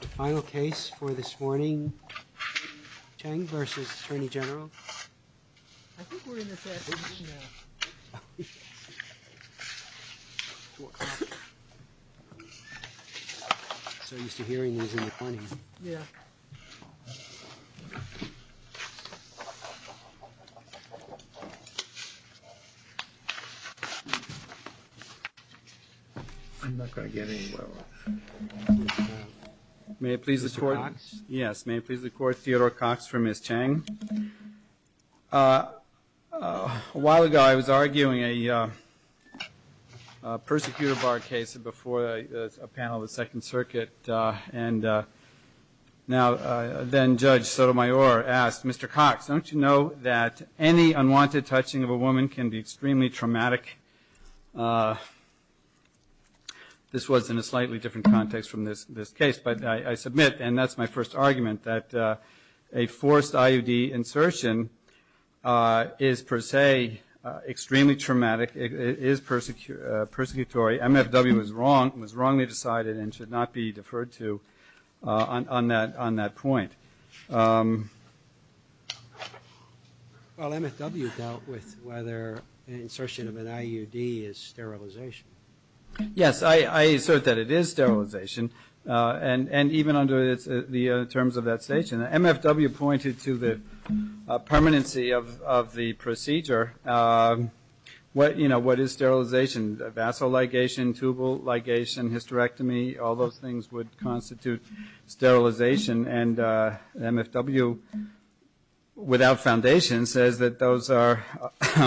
The final case for this morning, Cheng v. Attorney General. I think we're in the passage now. I'm so used to hearing these in the mornings. Yeah. I'm not going to get anywhere with this. May I please record? Mr. Cox? Yes, may I please record Theodore Cox for Ms. Cheng? A while ago I was arguing a persecutor bar case before a panel of the Second Circuit and then Judge Sotomayor asked, Mr. Cox, don't you know that any unwanted touching of a woman can be extremely traumatic? This was in a slightly different context from this case. But I submit, and that's my first argument, that a forced IUD insertion is per se extremely traumatic. It is persecutory. MFW was wrongly decided and should not be deferred to on that point. Well, MFW dealt with whether insertion of an IUD is sterilization. Yes, I assert that it is sterilization. And even under the terms of that station, MFW pointed to the permanency of the procedure. What is sterilization? Vassal ligation, tubal ligation, hysterectomy, all those things would constitute sterilization. And MFW, without foundation, says that those are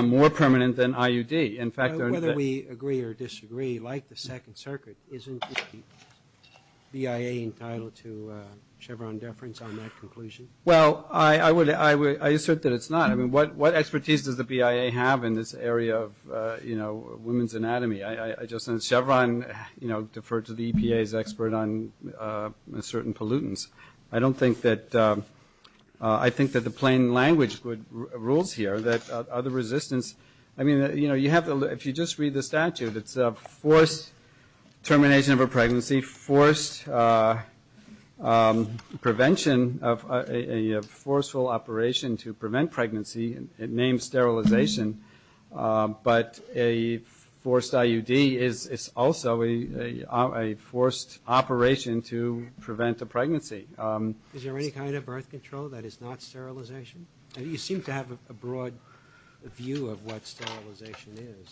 more permanent than IUD. Whether we agree or disagree, like the Second Circuit, isn't the BIA entitled to Chevron deference on that conclusion? Well, I assert that it's not. I mean, what expertise does the BIA have in this area of women's anatomy? I just think Chevron deferred to the EPA's expert on certain pollutants. I don't think that the plain language rules here that other resistance – I mean, if you just read the statute, prevention of a forceful operation to prevent pregnancy, it names sterilization. But a forced IUD is also a forced operation to prevent a pregnancy. Is there any kind of birth control that is not sterilization? You seem to have a broad view of what sterilization is.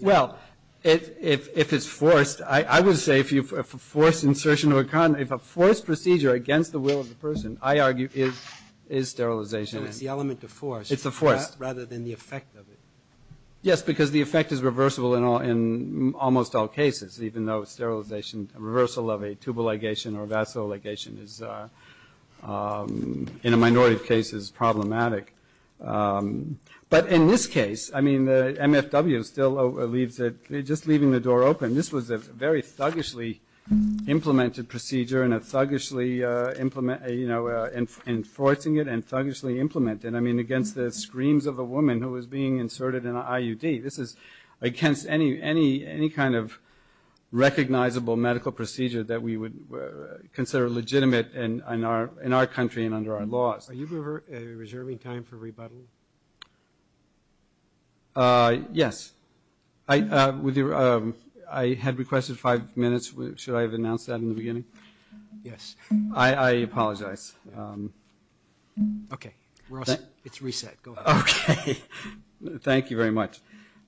Well, if it's forced, I would say if a forced procedure against the will of the person, I argue, is sterilization. So it's the element of force rather than the effect of it. Yes, because the effect is reversible in almost all cases, even though a reversal of a tubal ligation or a vassal ligation is, in a minority of cases, problematic. But in this case, I mean, the MFW still leaves it – just leaving the door open. This was a very thuggishly implemented procedure and a thuggishly – you know, enforcing it and thuggishly implementing it. I mean, against the screams of a woman who was being inserted in an IUD. This is against any kind of recognizable medical procedure that we would consider legitimate in our country and under our laws. Are you reserving time for rebuttal? Yes. I had requested five minutes. Should I have announced that in the beginning? Yes. I apologize. Okay. We're all set. It's reset. Go ahead. Okay. Thank you very much.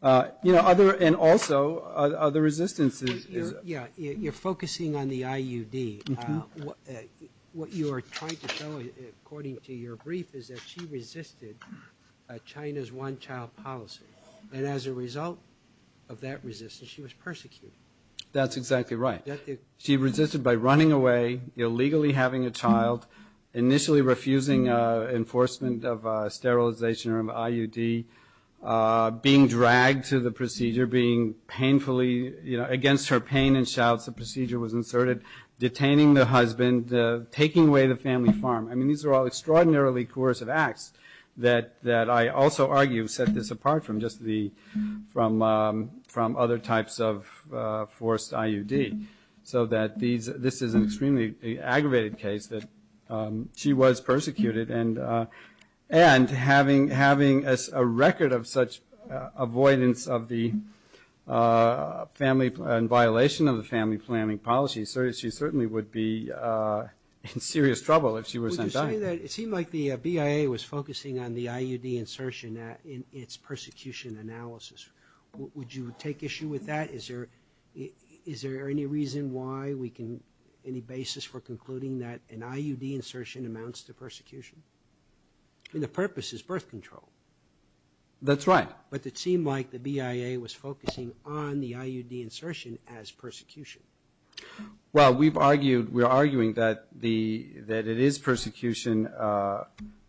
You know, other – and also, other resistance is – Yeah. You're focusing on the IUD. What you are trying to show, according to your brief, is that she resisted China's one-child policy. And as a result of that resistance, she was persecuted. That's exactly right. She resisted by running away, illegally having a child, initially refusing enforcement of sterilization or IUD, being dragged to the procedure, being painfully – you know, against her pain and shouts, the procedure was inserted, detaining the husband, taking away the family farm. I mean, these are all extraordinarily coercive acts that I also argue set this apart from just the – from other types of forced IUD, so that this is an extremely aggravated case that she was persecuted. And having a record of such avoidance of the family – and violation of the family planning policy, she certainly would be in serious trouble if she were sent back. Would you say that – it seemed like the BIA was focusing on the IUD insertion in its persecution analysis. Would you take issue with that? Is there any reason why we can – any basis for concluding that an IUD insertion amounts to persecution? I mean, the purpose is birth control. That's right. But it seemed like the BIA was focusing on the IUD insertion as persecution. Well, we've argued – we're arguing that the – that it is persecution,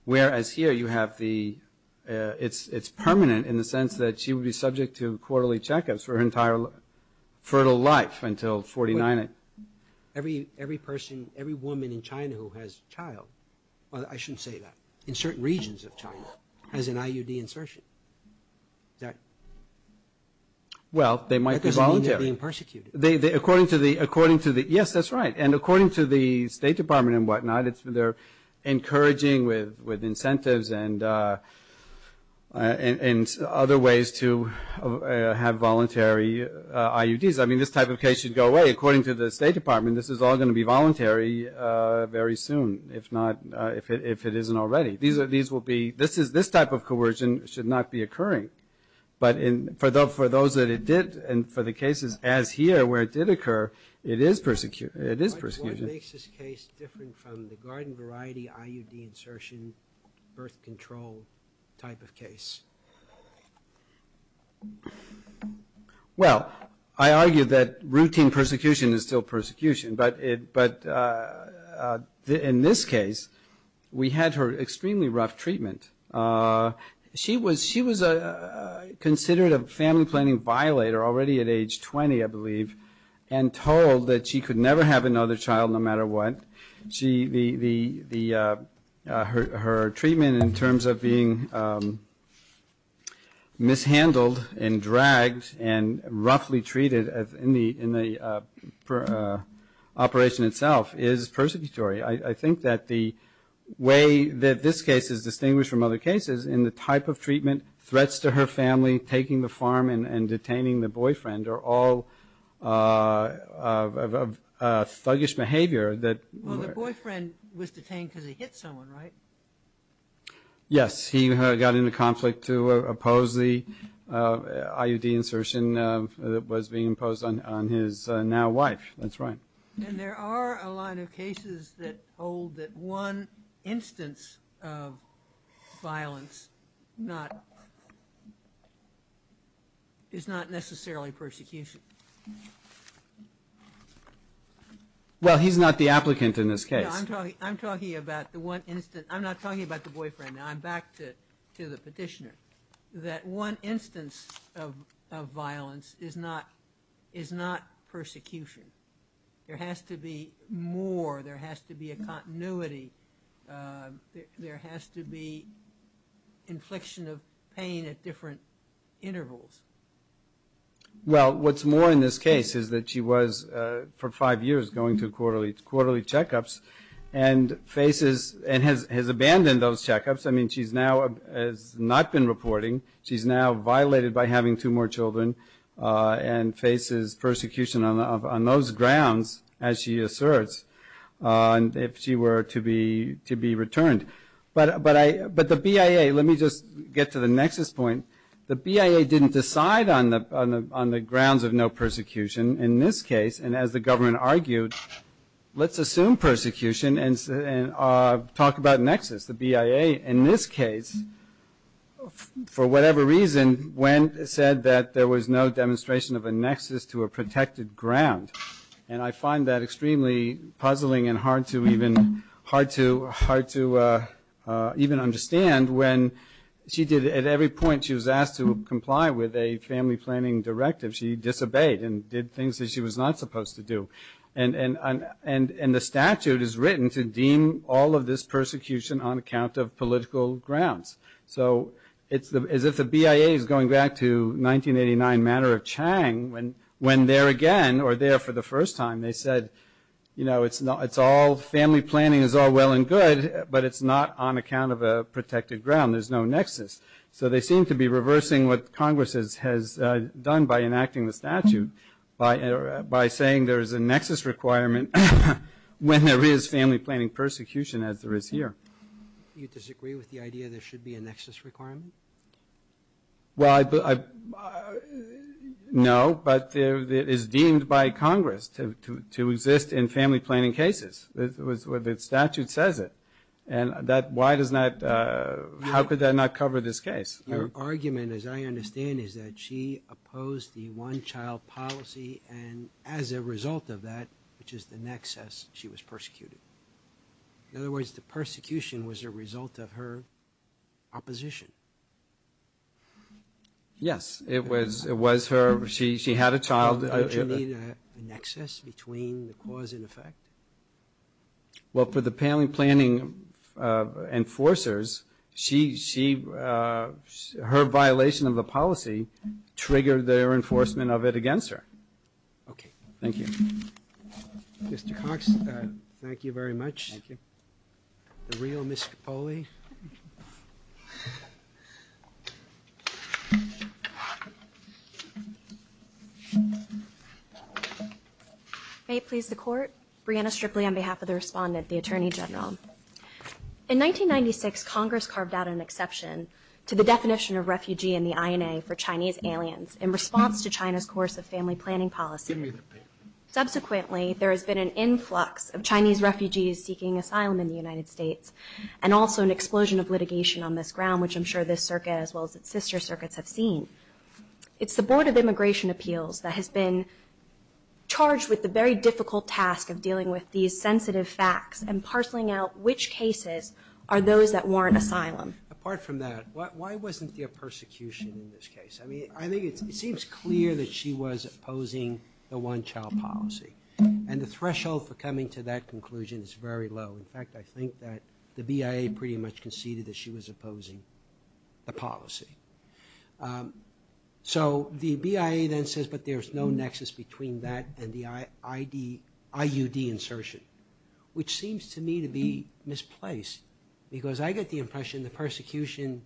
whereas here you have the – it's permanent in the sense that she would be subject to quarterly checkups for her entire fertile life until 49. Every person – every woman in China who has a child – I shouldn't say that – in certain regions of China has an IUD insertion. Is that – Well, they might be voluntary. That doesn't mean they're being persecuted. According to the – yes, that's right. And according to the State Department and whatnot, they're encouraging with incentives and other ways to have voluntary IUDs. I mean, this type of case should go away. According to the State Department, this is all going to be voluntary very soon, if not – if it isn't already. These will be – this type of coercion should not be occurring. But for those that it did, and for the cases as here where it did occur, it is persecution. What makes this case different from the garden variety IUD insertion, birth control type of case? Well, I argue that routine persecution is still persecution. But in this case, we had her extremely rough treatment. She was considered a family planning violator already at age 20, I believe, and told that she could never have another child no matter what. Her treatment in terms of being mishandled and dragged and roughly treated in the operation itself is persecutory. I think that the way that this case is distinguished from other cases in the type of treatment, threats to her family, taking the farm and detaining the boyfriend are all thuggish behavior that – Well, the boyfriend was detained because he hit someone, right? Yes. He got into conflict to oppose the IUD insertion that was being imposed on his now wife. That's right. And there are a lot of cases that hold that one instance of violence not – is not necessarily persecution. Well, he's not the applicant in this case. I'm talking about the one instance – I'm not talking about the boyfriend. I'm back to the petitioner. That one instance of violence is not persecution. There has to be more. There has to be a continuity. There has to be infliction of pain at different intervals. Well, what's more in this case is that she was, for five years, going to quarterly checkups and faces – and has abandoned those checkups. I mean, she's now – has not been reporting. She's now violated by having two more children and faces persecution on those grounds, as she asserts, if she were to be returned. But the BIA – let me just get to the nexus point. The BIA didn't decide on the grounds of no persecution in this case. And as the government argued, let's assume persecution and talk about nexus. The BIA, in this case, for whatever reason, said that there was no demonstration of a nexus to a protected ground. And I find that extremely puzzling and hard to even – hard to even understand when she did – at every point she was asked to comply with a family planning directive, she disobeyed and did things that she was not supposed to do. And the statute is written to deem all of this persecution on account of political grounds. So it's as if the BIA is going back to 1989 matter of Chang, when there again, or there for the first time, they said, you know, it's all – family planning is all well and good, but it's not on account of a protected ground. There's no nexus. So they seem to be reversing what Congress has done by enacting the statute by saying there is a nexus requirement when there is family planning persecution, as there is here. Do you disagree with the idea there should be a nexus requirement? Well, I – no, but it is deemed by Congress to exist in family planning cases. The statute says it. And that – why does not – how could that not cover this case? Your argument, as I understand, is that she opposed the one-child policy and as a result of that, which is the nexus, she was persecuted. In other words, the persecution was a result of her opposition. Yes, it was her – she had a child. Don't you need a nexus between the cause and effect? Well, for the family planning enforcers, she – her violation of the policy triggered their enforcement of it against her. Okay. Thank you. Mr. Cox, thank you very much. Thank you. The real Ms. Cipolli. May it please the Court. Brianna Stripley on behalf of the respondent, the Attorney General. In 1996, Congress carved out an exception to the definition of refugee in the INA for Chinese aliens in response to China's course of family planning policy. Subsequently, there has been an influx of Chinese refugees seeking asylum in the United States and also an explosion of litigation on this ground, which I'm sure this circuit as well as its sister circuits have seen. It's the Board of Immigration Appeals that has been charged with the very difficult task of dealing with these sensitive facts and parceling out which cases are those that warrant asylum. Apart from that, why wasn't there persecution in this case? I mean, I think it seems clear that she was opposing the one-child policy, and the threshold for coming to that conclusion is very low. In fact, I think that the BIA pretty much conceded that she was opposing the policy. So the BIA then says, but there's no nexus between that and the IUD insertion, which seems to me to be misplaced because I get the impression the persecution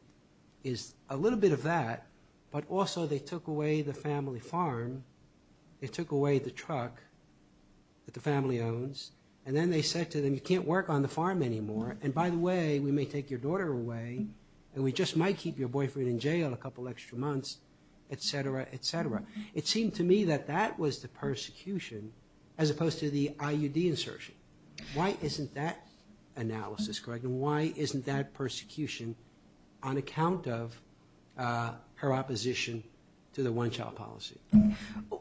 is a little bit of that, but also they took away the family farm, they took away the truck that the family owns, and then they said to them, you can't work on the farm anymore, and by the way, we may take your daughter away, and we just might keep your boyfriend in jail a couple extra months, et cetera, et cetera. It seemed to me that that was the persecution as opposed to the IUD insertion. Why isn't that analysis correct, and why isn't that persecution on account of her opposition to the one-child policy?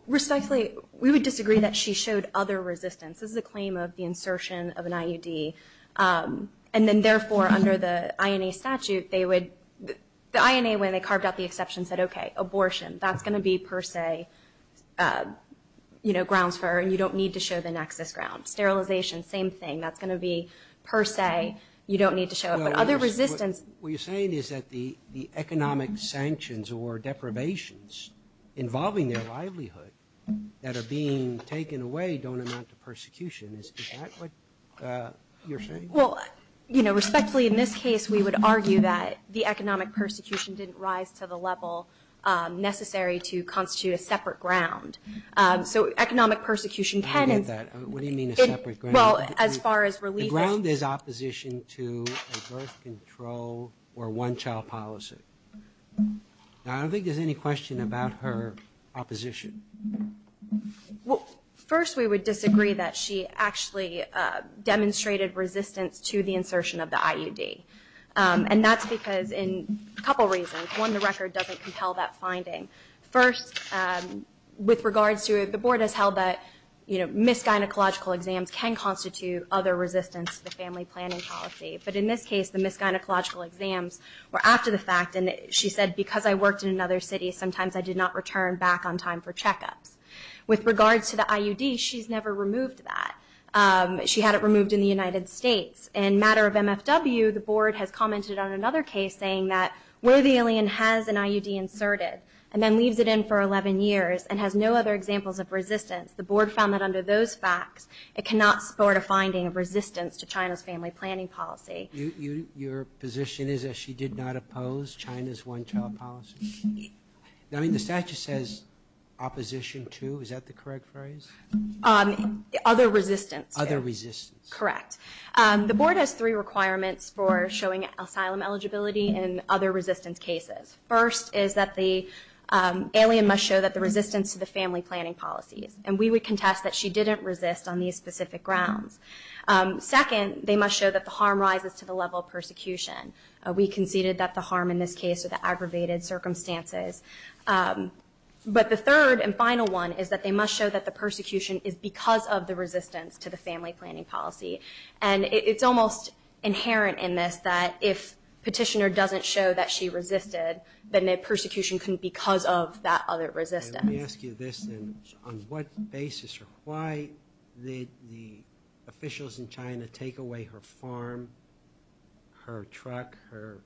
Respectfully, we would disagree that she showed other resistance. This is a claim of the insertion of an IUD, and then therefore, under the INA statute, the INA, when they carved out the exception, said, okay, abortion. That's going to be per se grounds for her, and you don't need to show the nexus grounds. Sterilization, same thing. That's going to be per se. You don't need to show it, but other resistance. What you're saying is that the economic sanctions or deprivations involving their livelihood that are being taken away don't amount to persecution. Is that what you're saying? Well, respectfully, in this case, we would argue that the economic persecution didn't rise to the level necessary to constitute a separate ground. So economic persecution can be as far as relief. The ground is opposition to a birth control or one-child policy. I don't think there's any question about her opposition. First, we would disagree that she actually demonstrated resistance to the insertion of the IUD, and that's because in a couple reasons. One, the record doesn't compel that finding. First, with regards to it, the board has held that misgynecological exams can constitute other resistance to the family planning policy. But in this case, the misgynecological exams were after the fact, and she said, because I worked in another city, sometimes I did not return back on time for checkups. With regards to the IUD, she's never removed that. She had it removed in the United States. In a matter of MFW, the board has commented on another case saying that where the alien has an IUD inserted, and then leaves it in for 11 years and has no other examples of resistance, the board found that under those facts, it cannot support a finding of resistance to China's family planning policy. Your position is that she did not oppose China's one-child policy? I mean, the statute says opposition to. Is that the correct phrase? Other resistance. Other resistance. Correct. The board has three requirements for showing asylum eligibility in other resistance cases. First is that the alien must show that the resistance to the family planning policies. And we would contest that she didn't resist on these specific grounds. Second, they must show that the harm rises to the level of persecution. We conceded that the harm in this case are the aggravated circumstances. But the third and final one is that they must show that the persecution is because of the resistance to the family planning policy. And it's almost inherent in this that if petitioner doesn't show that she resisted, then the persecution couldn't be because of that other resistance. Let me ask you this then. On what basis or why did the officials in China take away her farm, her truck, her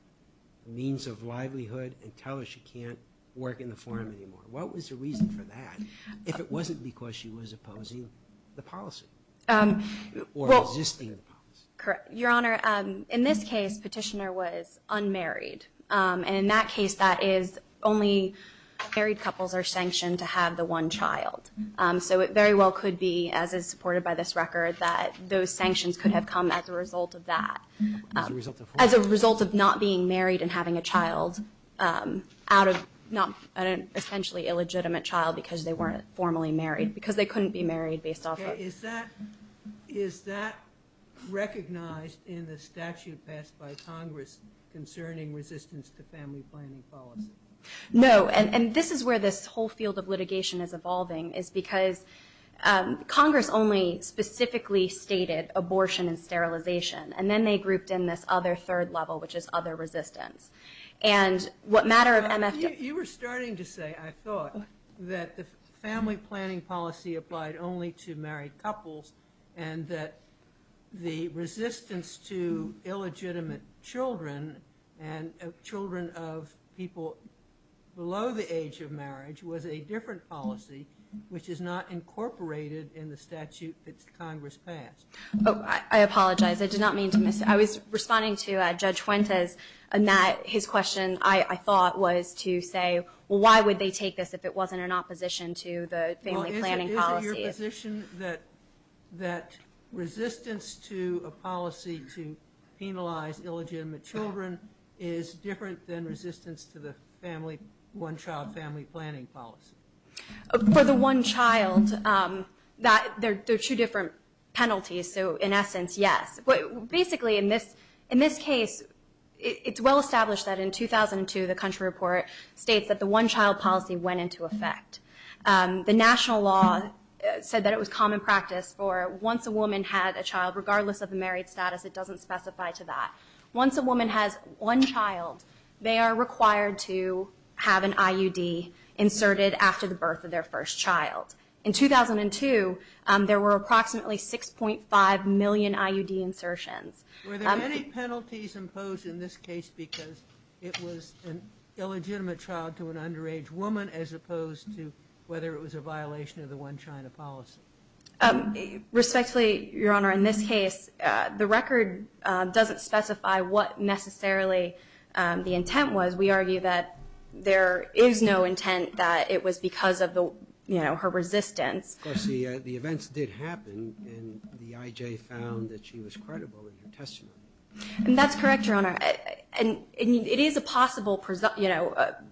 means of livelihood, and tell her she can't work in the farm anymore? What was the reason for that if it wasn't because she was opposing the policy? Or resisting the policy. Your Honor, in this case, petitioner was unmarried. And in that case, that is only married couples are sanctioned to have the one child. So it very well could be, as is supported by this record, that those sanctions could have come as a result of that. As a result of what? As a result of not being married and having a child out of not an essentially illegitimate child because they weren't formally married. Because they couldn't be married based off of. Is that recognized in the statute passed by Congress concerning resistance to family planning policy? No. And this is where this whole field of litigation is evolving is because Congress only specifically stated abortion and sterilization. And then they grouped in this other third level, which is other resistance. You were starting to say, I thought, that the family planning policy applied only to married couples, and that the resistance to illegitimate children and children of people below the age of marriage was a different policy, which is not incorporated in the statute that Congress passed. I apologize. I did not mean to miss. I was responding to Judge Fuentes, and his question, I thought, was to say, well, why would they take this if it wasn't in opposition to the family planning policy? Is it your position that resistance to a policy to penalize illegitimate children is different than resistance to the family, one-child family planning policy? For the one child, there are two different penalties. So, in essence, yes. Basically, in this case, it's well established that in 2002, the country report states that the one-child policy went into effect. The national law said that it was common practice for once a woman had a child, regardless of the married status, it doesn't specify to that. Once a woman has one child, they are required to have an IUD inserted after the birth of their first child. In 2002, there were approximately 6.5 million IUD insertions. Were there any penalties imposed in this case because it was an illegitimate child to an underage woman as opposed to whether it was a violation of the one-child policy? Respectfully, Your Honor, in this case, the record doesn't specify what necessarily the intent was. We argue that there is no intent that it was because of her resistance. Of course, the events did happen, and the IJ found that she was credible in her testimony. And that's correct, Your Honor. It is a possible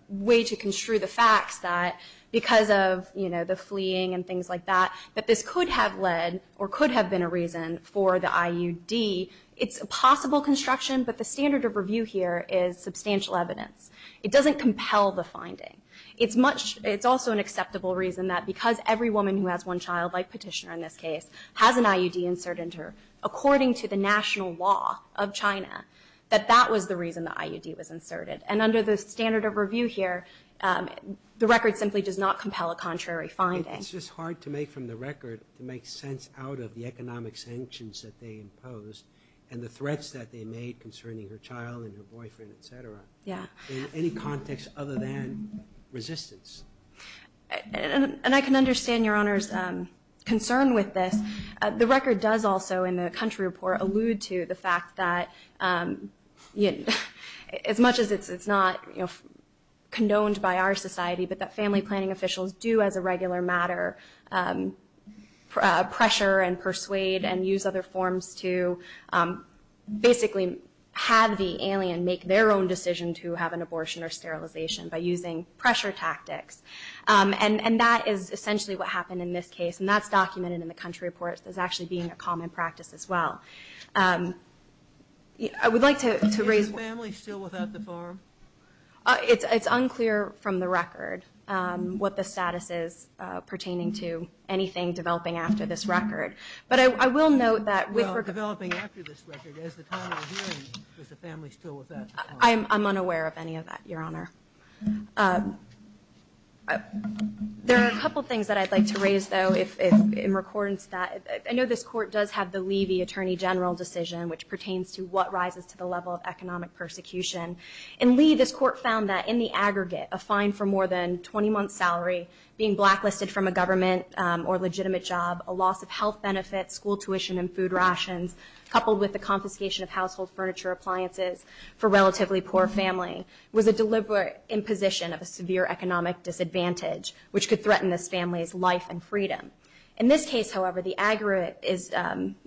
way to construe the facts that because of the fleeing and things like that, that this could have led or could have been a reason for the IUD. It's a possible construction, but the standard of review here is substantial evidence. It doesn't compel the finding. It's much – it's also an acceptable reason that because every woman who has one child, like Petitioner in this case, has an IUD insert into her, according to the national law of China, that that was the reason the IUD was inserted. And under the standard of review here, the record simply does not compel a contrary finding. It's just hard to make from the record to make sense out of the economic sanctions that they imposed and the threats that they made concerning her child and her boyfriend, et cetera, in any context other than resistance. And I can understand Your Honor's concern with this. The record does also, in the country report, allude to the fact that as much as it's not condoned by our society, but that family planning officials do, as a regular matter, pressure and persuade and use other forms to basically have the alien make their own decision to have an abortion or sterilization by using pressure tactics. And that is essentially what happened in this case, and that's documented in the country report as actually being a common practice as well. I would like to raise – Is the family still without the farm? It's unclear from the record what the status is pertaining to anything developing after this record. But I will note that with – Well, developing after this record, as the time we're hearing, is the family still without the farm? I'm unaware of any of that, Your Honor. There are a couple of things that I'd like to raise, though, in recordance that – I know this Court does have the Levy Attorney General decision, which pertains to what rises to the level of economic persecution. In Lee, this Court found that in the aggregate, a fine for more than a 20-month salary, being blacklisted from a government or legitimate job, a loss of health benefits, school tuition and food rations, coupled with the confiscation of household furniture appliances for a relatively poor family, was a deliberate imposition of a severe economic disadvantage, which could threaten this family's life and freedom. In this case, however, the aggregate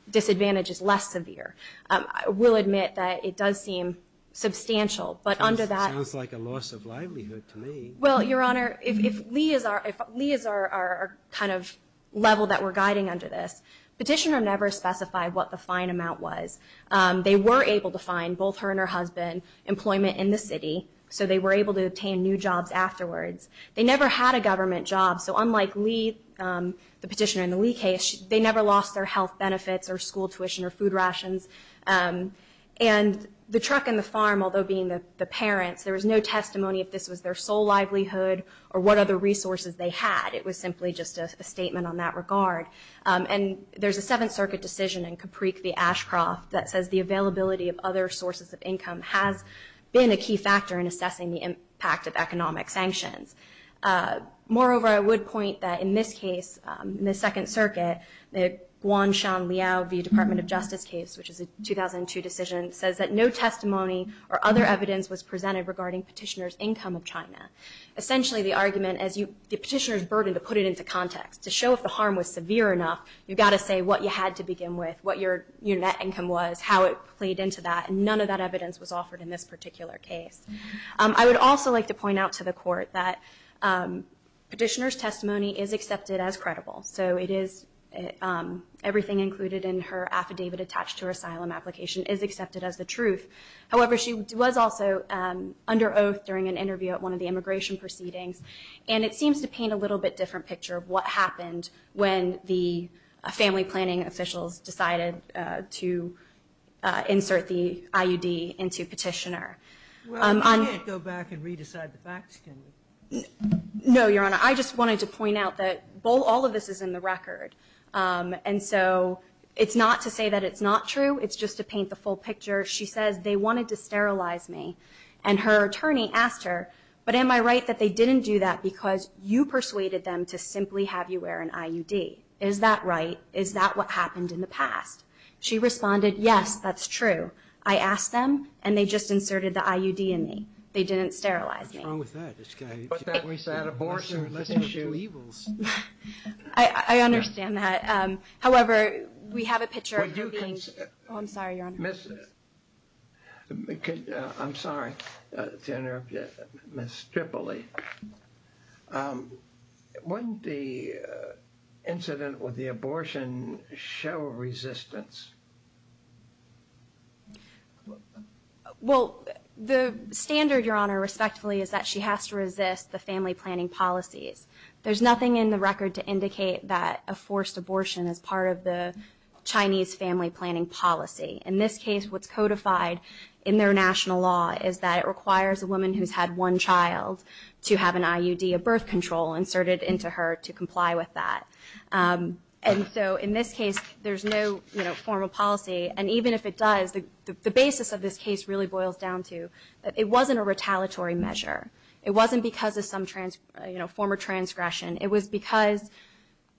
disadvantage is less severe. I will admit that it does seem substantial, but under that – Sounds like a loss of livelihood to me. Well, Your Honor, if Lee is our kind of level that we're guiding under this, Petitioner never specified what the fine amount was. They were able to find, both her and her husband, employment in the city, so they were able to obtain new jobs afterwards. They never had a government job, so unlike Lee, the Petitioner in the Lee case, they never lost their health benefits or school tuition or food rations. And the truck and the farm, although being the parents, there was no testimony if this was their sole livelihood or what other resources they had. It was simply just a statement on that regard. And there's a Seventh Circuit decision in Capreek v. Ashcroft that says the availability of other sources of income has been a key factor in assessing the impact of economic sanctions. Moreover, I would point that in this case, in the Second Circuit, the Guan Shan Liao v. Department of Justice case, which is a 2002 decision, says that no testimony or other evidence was presented regarding Petitioner's income of China. Essentially, the argument is the Petitioner's burden to put it into context, to show if the harm was severe enough, you've got to say what you had to begin with, what your net income was, how it played into that, and none of that evidence was offered in this particular case. I would also like to point out to the Court that Petitioner's testimony is accepted as credible. So everything included in her affidavit attached to her asylum application is accepted as the truth. However, she was also under oath during an interview at one of the immigration proceedings, and it seems to paint a little bit different picture of what happened when the family planning officials decided to insert the IUD into Petitioner. Well, you can't go back and re-decide the facts, can you? No, Your Honor. I just wanted to point out that all of this is in the record. And so it's not to say that it's not true. It's just to paint the full picture. She says, they wanted to sterilize me. And her attorney asked her, but am I right that they didn't do that because you persuaded them to simply have you wear an IUD? Is that right? Is that what happened in the past? She responded, yes, that's true. I asked them, and they just inserted the IUD in me. They didn't sterilize me. What's wrong with that? It's kind of a lesser of two evils. I understand that. However, we have a picture of her being. Oh, I'm sorry, Your Honor. I'm sorry to interrupt you, Ms. Tripoli. Wouldn't the incident with the abortion show resistance? Well, the standard, Your Honor, respectfully, is that she has to resist the family planning policies. There's nothing in the record to indicate that a forced abortion is part of the Chinese family planning policy. In this case, what's codified in their national law is that it requires a woman who's had one child to have an IUD, a birth control, inserted into her to comply with that. And so in this case, there's no formal policy, and even if it does, the basis of this case really boils down to that it wasn't a retaliatory measure. It wasn't because of some former transgression. It was because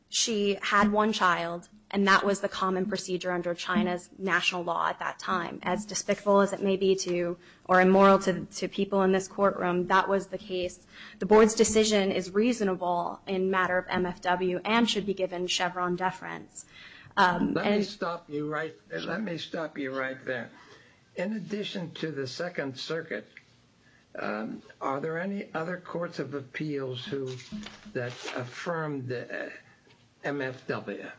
she had one child, and that was the common procedure under China's national law at that time. As despicable as it may be to, or immoral to people in this courtroom, that was the case. The board's decision is reasonable in matter of MFW and should be given Chevron deference. Let me stop you right there. In addition to the Second Circuit, are there any other courts of appeals that affirmed MFW?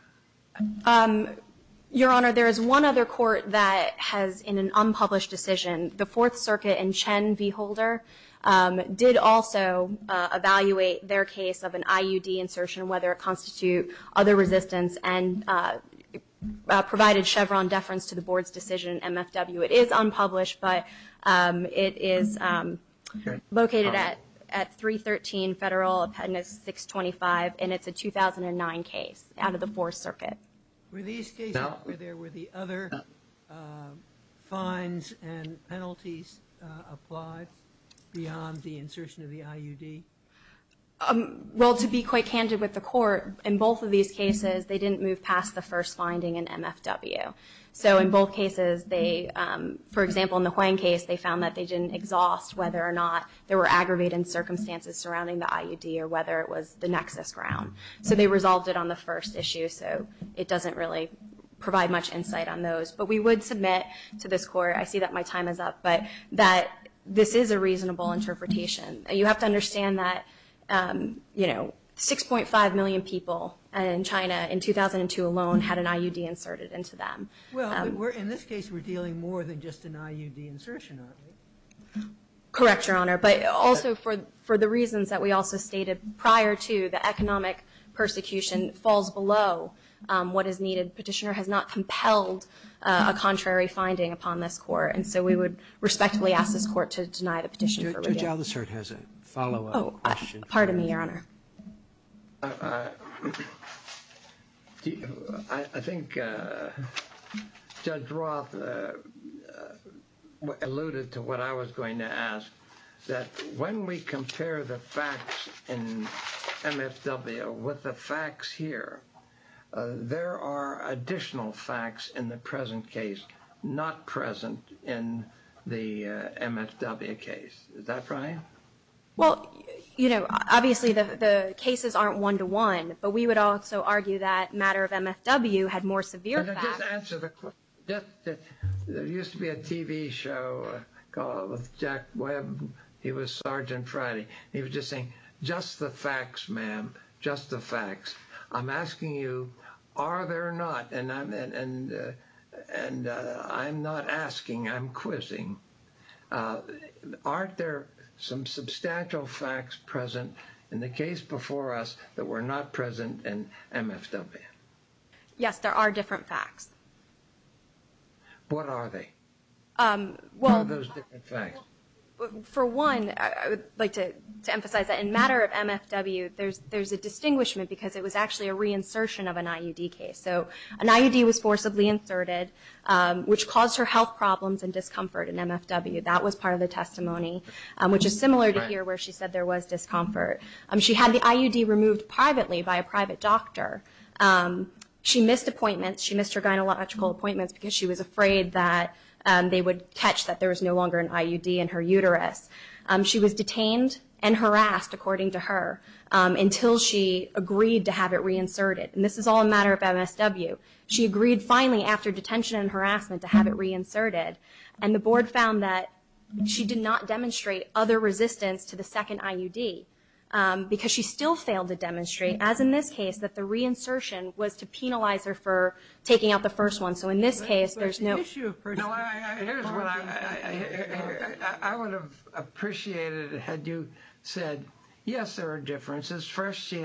Your Honor, there is one other court that has in an unpublished decision, the Fourth Circuit and Chen v. Holder, did also evaluate their case of an IUD insertion, whether it constitute other resistance and provided Chevron deference to the board's decision, MFW. It is unpublished, but it is located at 313 Federal Appendix 625, and it's a 2009 case out of the Fourth Circuit. Were these cases where there were the other fines and penalties applied beyond the insertion of the IUD? Well, to be quite candid with the Court, in both of these cases they didn't move past the first finding in MFW. So in both cases they, for example, in the Huang case, they found that they didn't exhaust whether or not there were aggravating circumstances surrounding the IUD or whether it was the nexus ground. So they resolved it on the first issue, so it doesn't really provide much insight on those. But we would submit to this Court, I see that my time is up, but that this is a reasonable interpretation. You have to understand that, you know, 6.5 million people in China in 2002 alone had an IUD inserted into them. Well, in this case we're dealing more than just an IUD insertion, aren't we? Correct, Your Honor. But also for the reasons that we also stated prior to, the economic persecution falls below what is needed. Petitioner has not compelled a contrary finding upon this Court, and so we would respectfully ask this Court to deny the petition for review. Judge Aldershot has a follow-up question. Oh, pardon me, Your Honor. I think Judge Roth alluded to what I was going to ask, that when we compare the facts in MSW with the facts here, there are additional facts in the present case not present in the MSW case. Is that right? Well, you know, obviously the cases aren't one-to-one, but we would also argue that matter of MSW had more severe facts. Let me just answer the question. There used to be a TV show called Jack Webb. He was Sergeant Friday. He was just saying, just the facts, ma'am, just the facts. I'm asking you, are there not? And I'm not asking, I'm quizzing. Aren't there some substantial facts present in the case before us that were not present in MSW? Yes, there are different facts. What are they? What are those different facts? For one, I would like to emphasize that in matter of MSW, there's a distinguishment because it was actually a reinsertion of an IUD case. So an IUD was forcibly inserted, which caused her health problems and discomfort in MFW. That was part of the testimony, which is similar to here where she said there was discomfort. She had the IUD removed privately by a private doctor. She missed appointments. She missed her gynecological appointments because she was afraid that they would catch that there was no longer an IUD in her uterus. She was detained and harassed, according to her, until she agreed to have it reinserted. And this is all a matter of MSW. She agreed finally after detention and harassment to have it reinserted. And the board found that she did not demonstrate other resistance to the second IUD because she still failed to demonstrate, as in this case, that the reinsertion was to penalize her for taking out the first one. So in this case, there's no... Here's what I would have appreciated had you said, yes, there are differences. First, they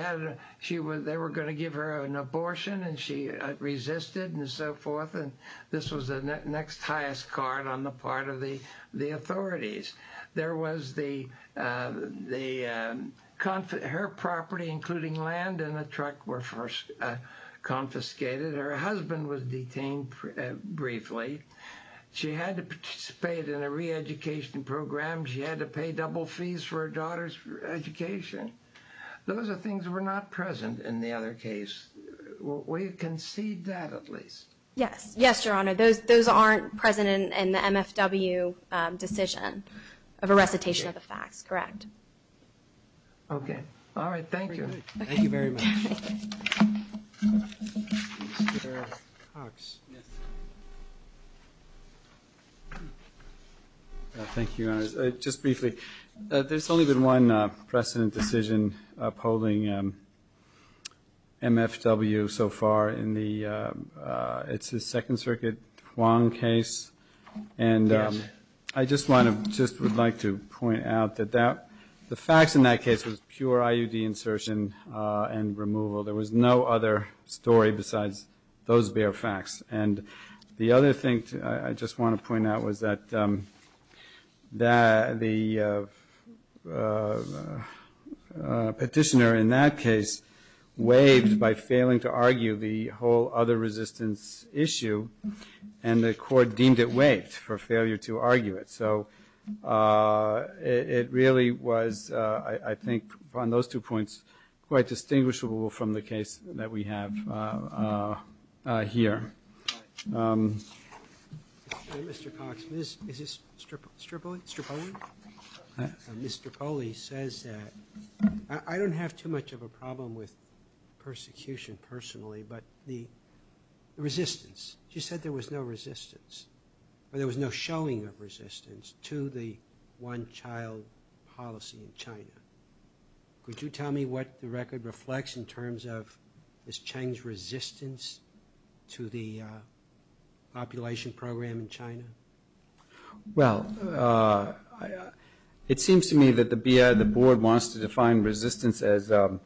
were going to give her an abortion and she resisted and so forth, and this was the next highest card on the part of the authorities. There was the... Her property, including land and a truck, were confiscated. Her husband was detained briefly. She had to participate in a reeducation program. She had to pay double fees for her daughter's education. Those are things that were not present in the other case. We concede that at least. Yes, Your Honor. Those aren't present in the MFW decision of a recitation of the facts, correct? Okay. All right. Thank you. Thank you very much. Mr. Cox. Thank you, Your Honor. Just briefly, there's only been one precedent decision upholding MFW so far. It's the Second Circuit Huang case. I just would like to point out that the facts in that case was pure IUD insertion and removal. There was no other story besides those bare facts. The other thing I just want to point out was that the petitioner in that case waived by failing to argue the whole other resistance issue, and the court deemed it waived for failure to argue it. It really was, I think, on those two points, quite distinguishable from the case that we have here. Mr. Cox. Is this Stripoli? Mr. Poli says that I don't have too much of a problem with persecution personally, but the resistance. She said there was no resistance, or there was no showing of resistance to the one-child policy in China. Could you tell me what the record reflects in terms of this Chang's resistance to the population program in China? Well, it seems to me that the BIA, the board, wants to define resistance as a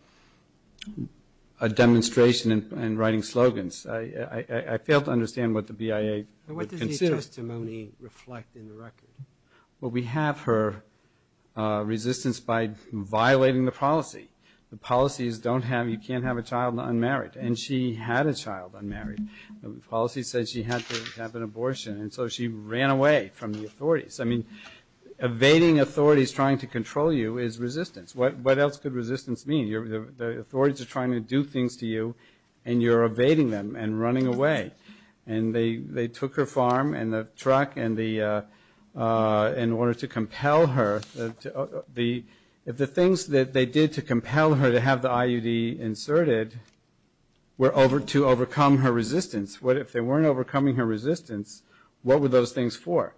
demonstration in writing slogans. I fail to understand what the BIA would consider. What does the testimony reflect in the record? Well, we have her resistance by violating the policy. The policy is you can't have a child unmarried, and she had a child unmarried. The policy says she had to have an abortion, and so she ran away from the authorities. I mean, evading authorities trying to control you is resistance. What else could resistance mean? The authorities are trying to do things to you, and you're evading them and running away. They took her farm and the truck in order to compel her. If the things that they did to compel her to have the IUD inserted were to overcome her resistance, if they weren't overcoming her resistance, what were those things for?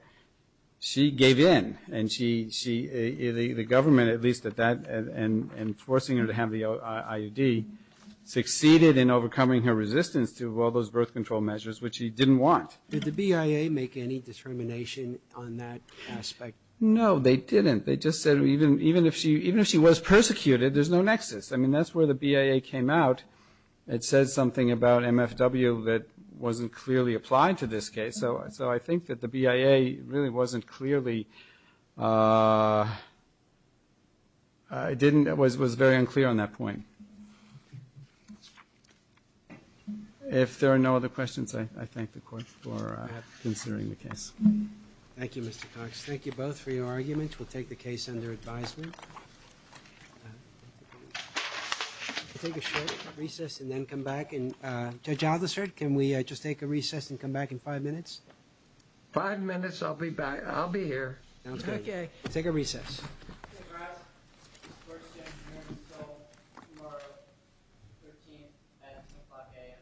She gave in, and the government, at least at that, and forcing her to have the IUD succeeded in overcoming her resistance to all those birth control measures, which she didn't want. Did the BIA make any determination on that aspect? No, they didn't. They just said even if she was persecuted, there's no nexus. I mean, that's where the BIA came out. It said something about MFW that wasn't clearly applied to this case. So I think that the BIA really wasn't clearly, it was very unclear on that point. If there are no other questions, I thank the Court for considering the case. Thank you, Mr. Cox. Thank you both for your arguments. We'll take the case under advisement. We'll take a short recess and then come back. Judge Aldersard, can we just take a recess and come back in five minutes? Five minutes, I'll be back. I'll be here. Okay. Take a recess. Mr. Gratz, this court is adjourned until tomorrow, 13 at 5 a.m. Thank you.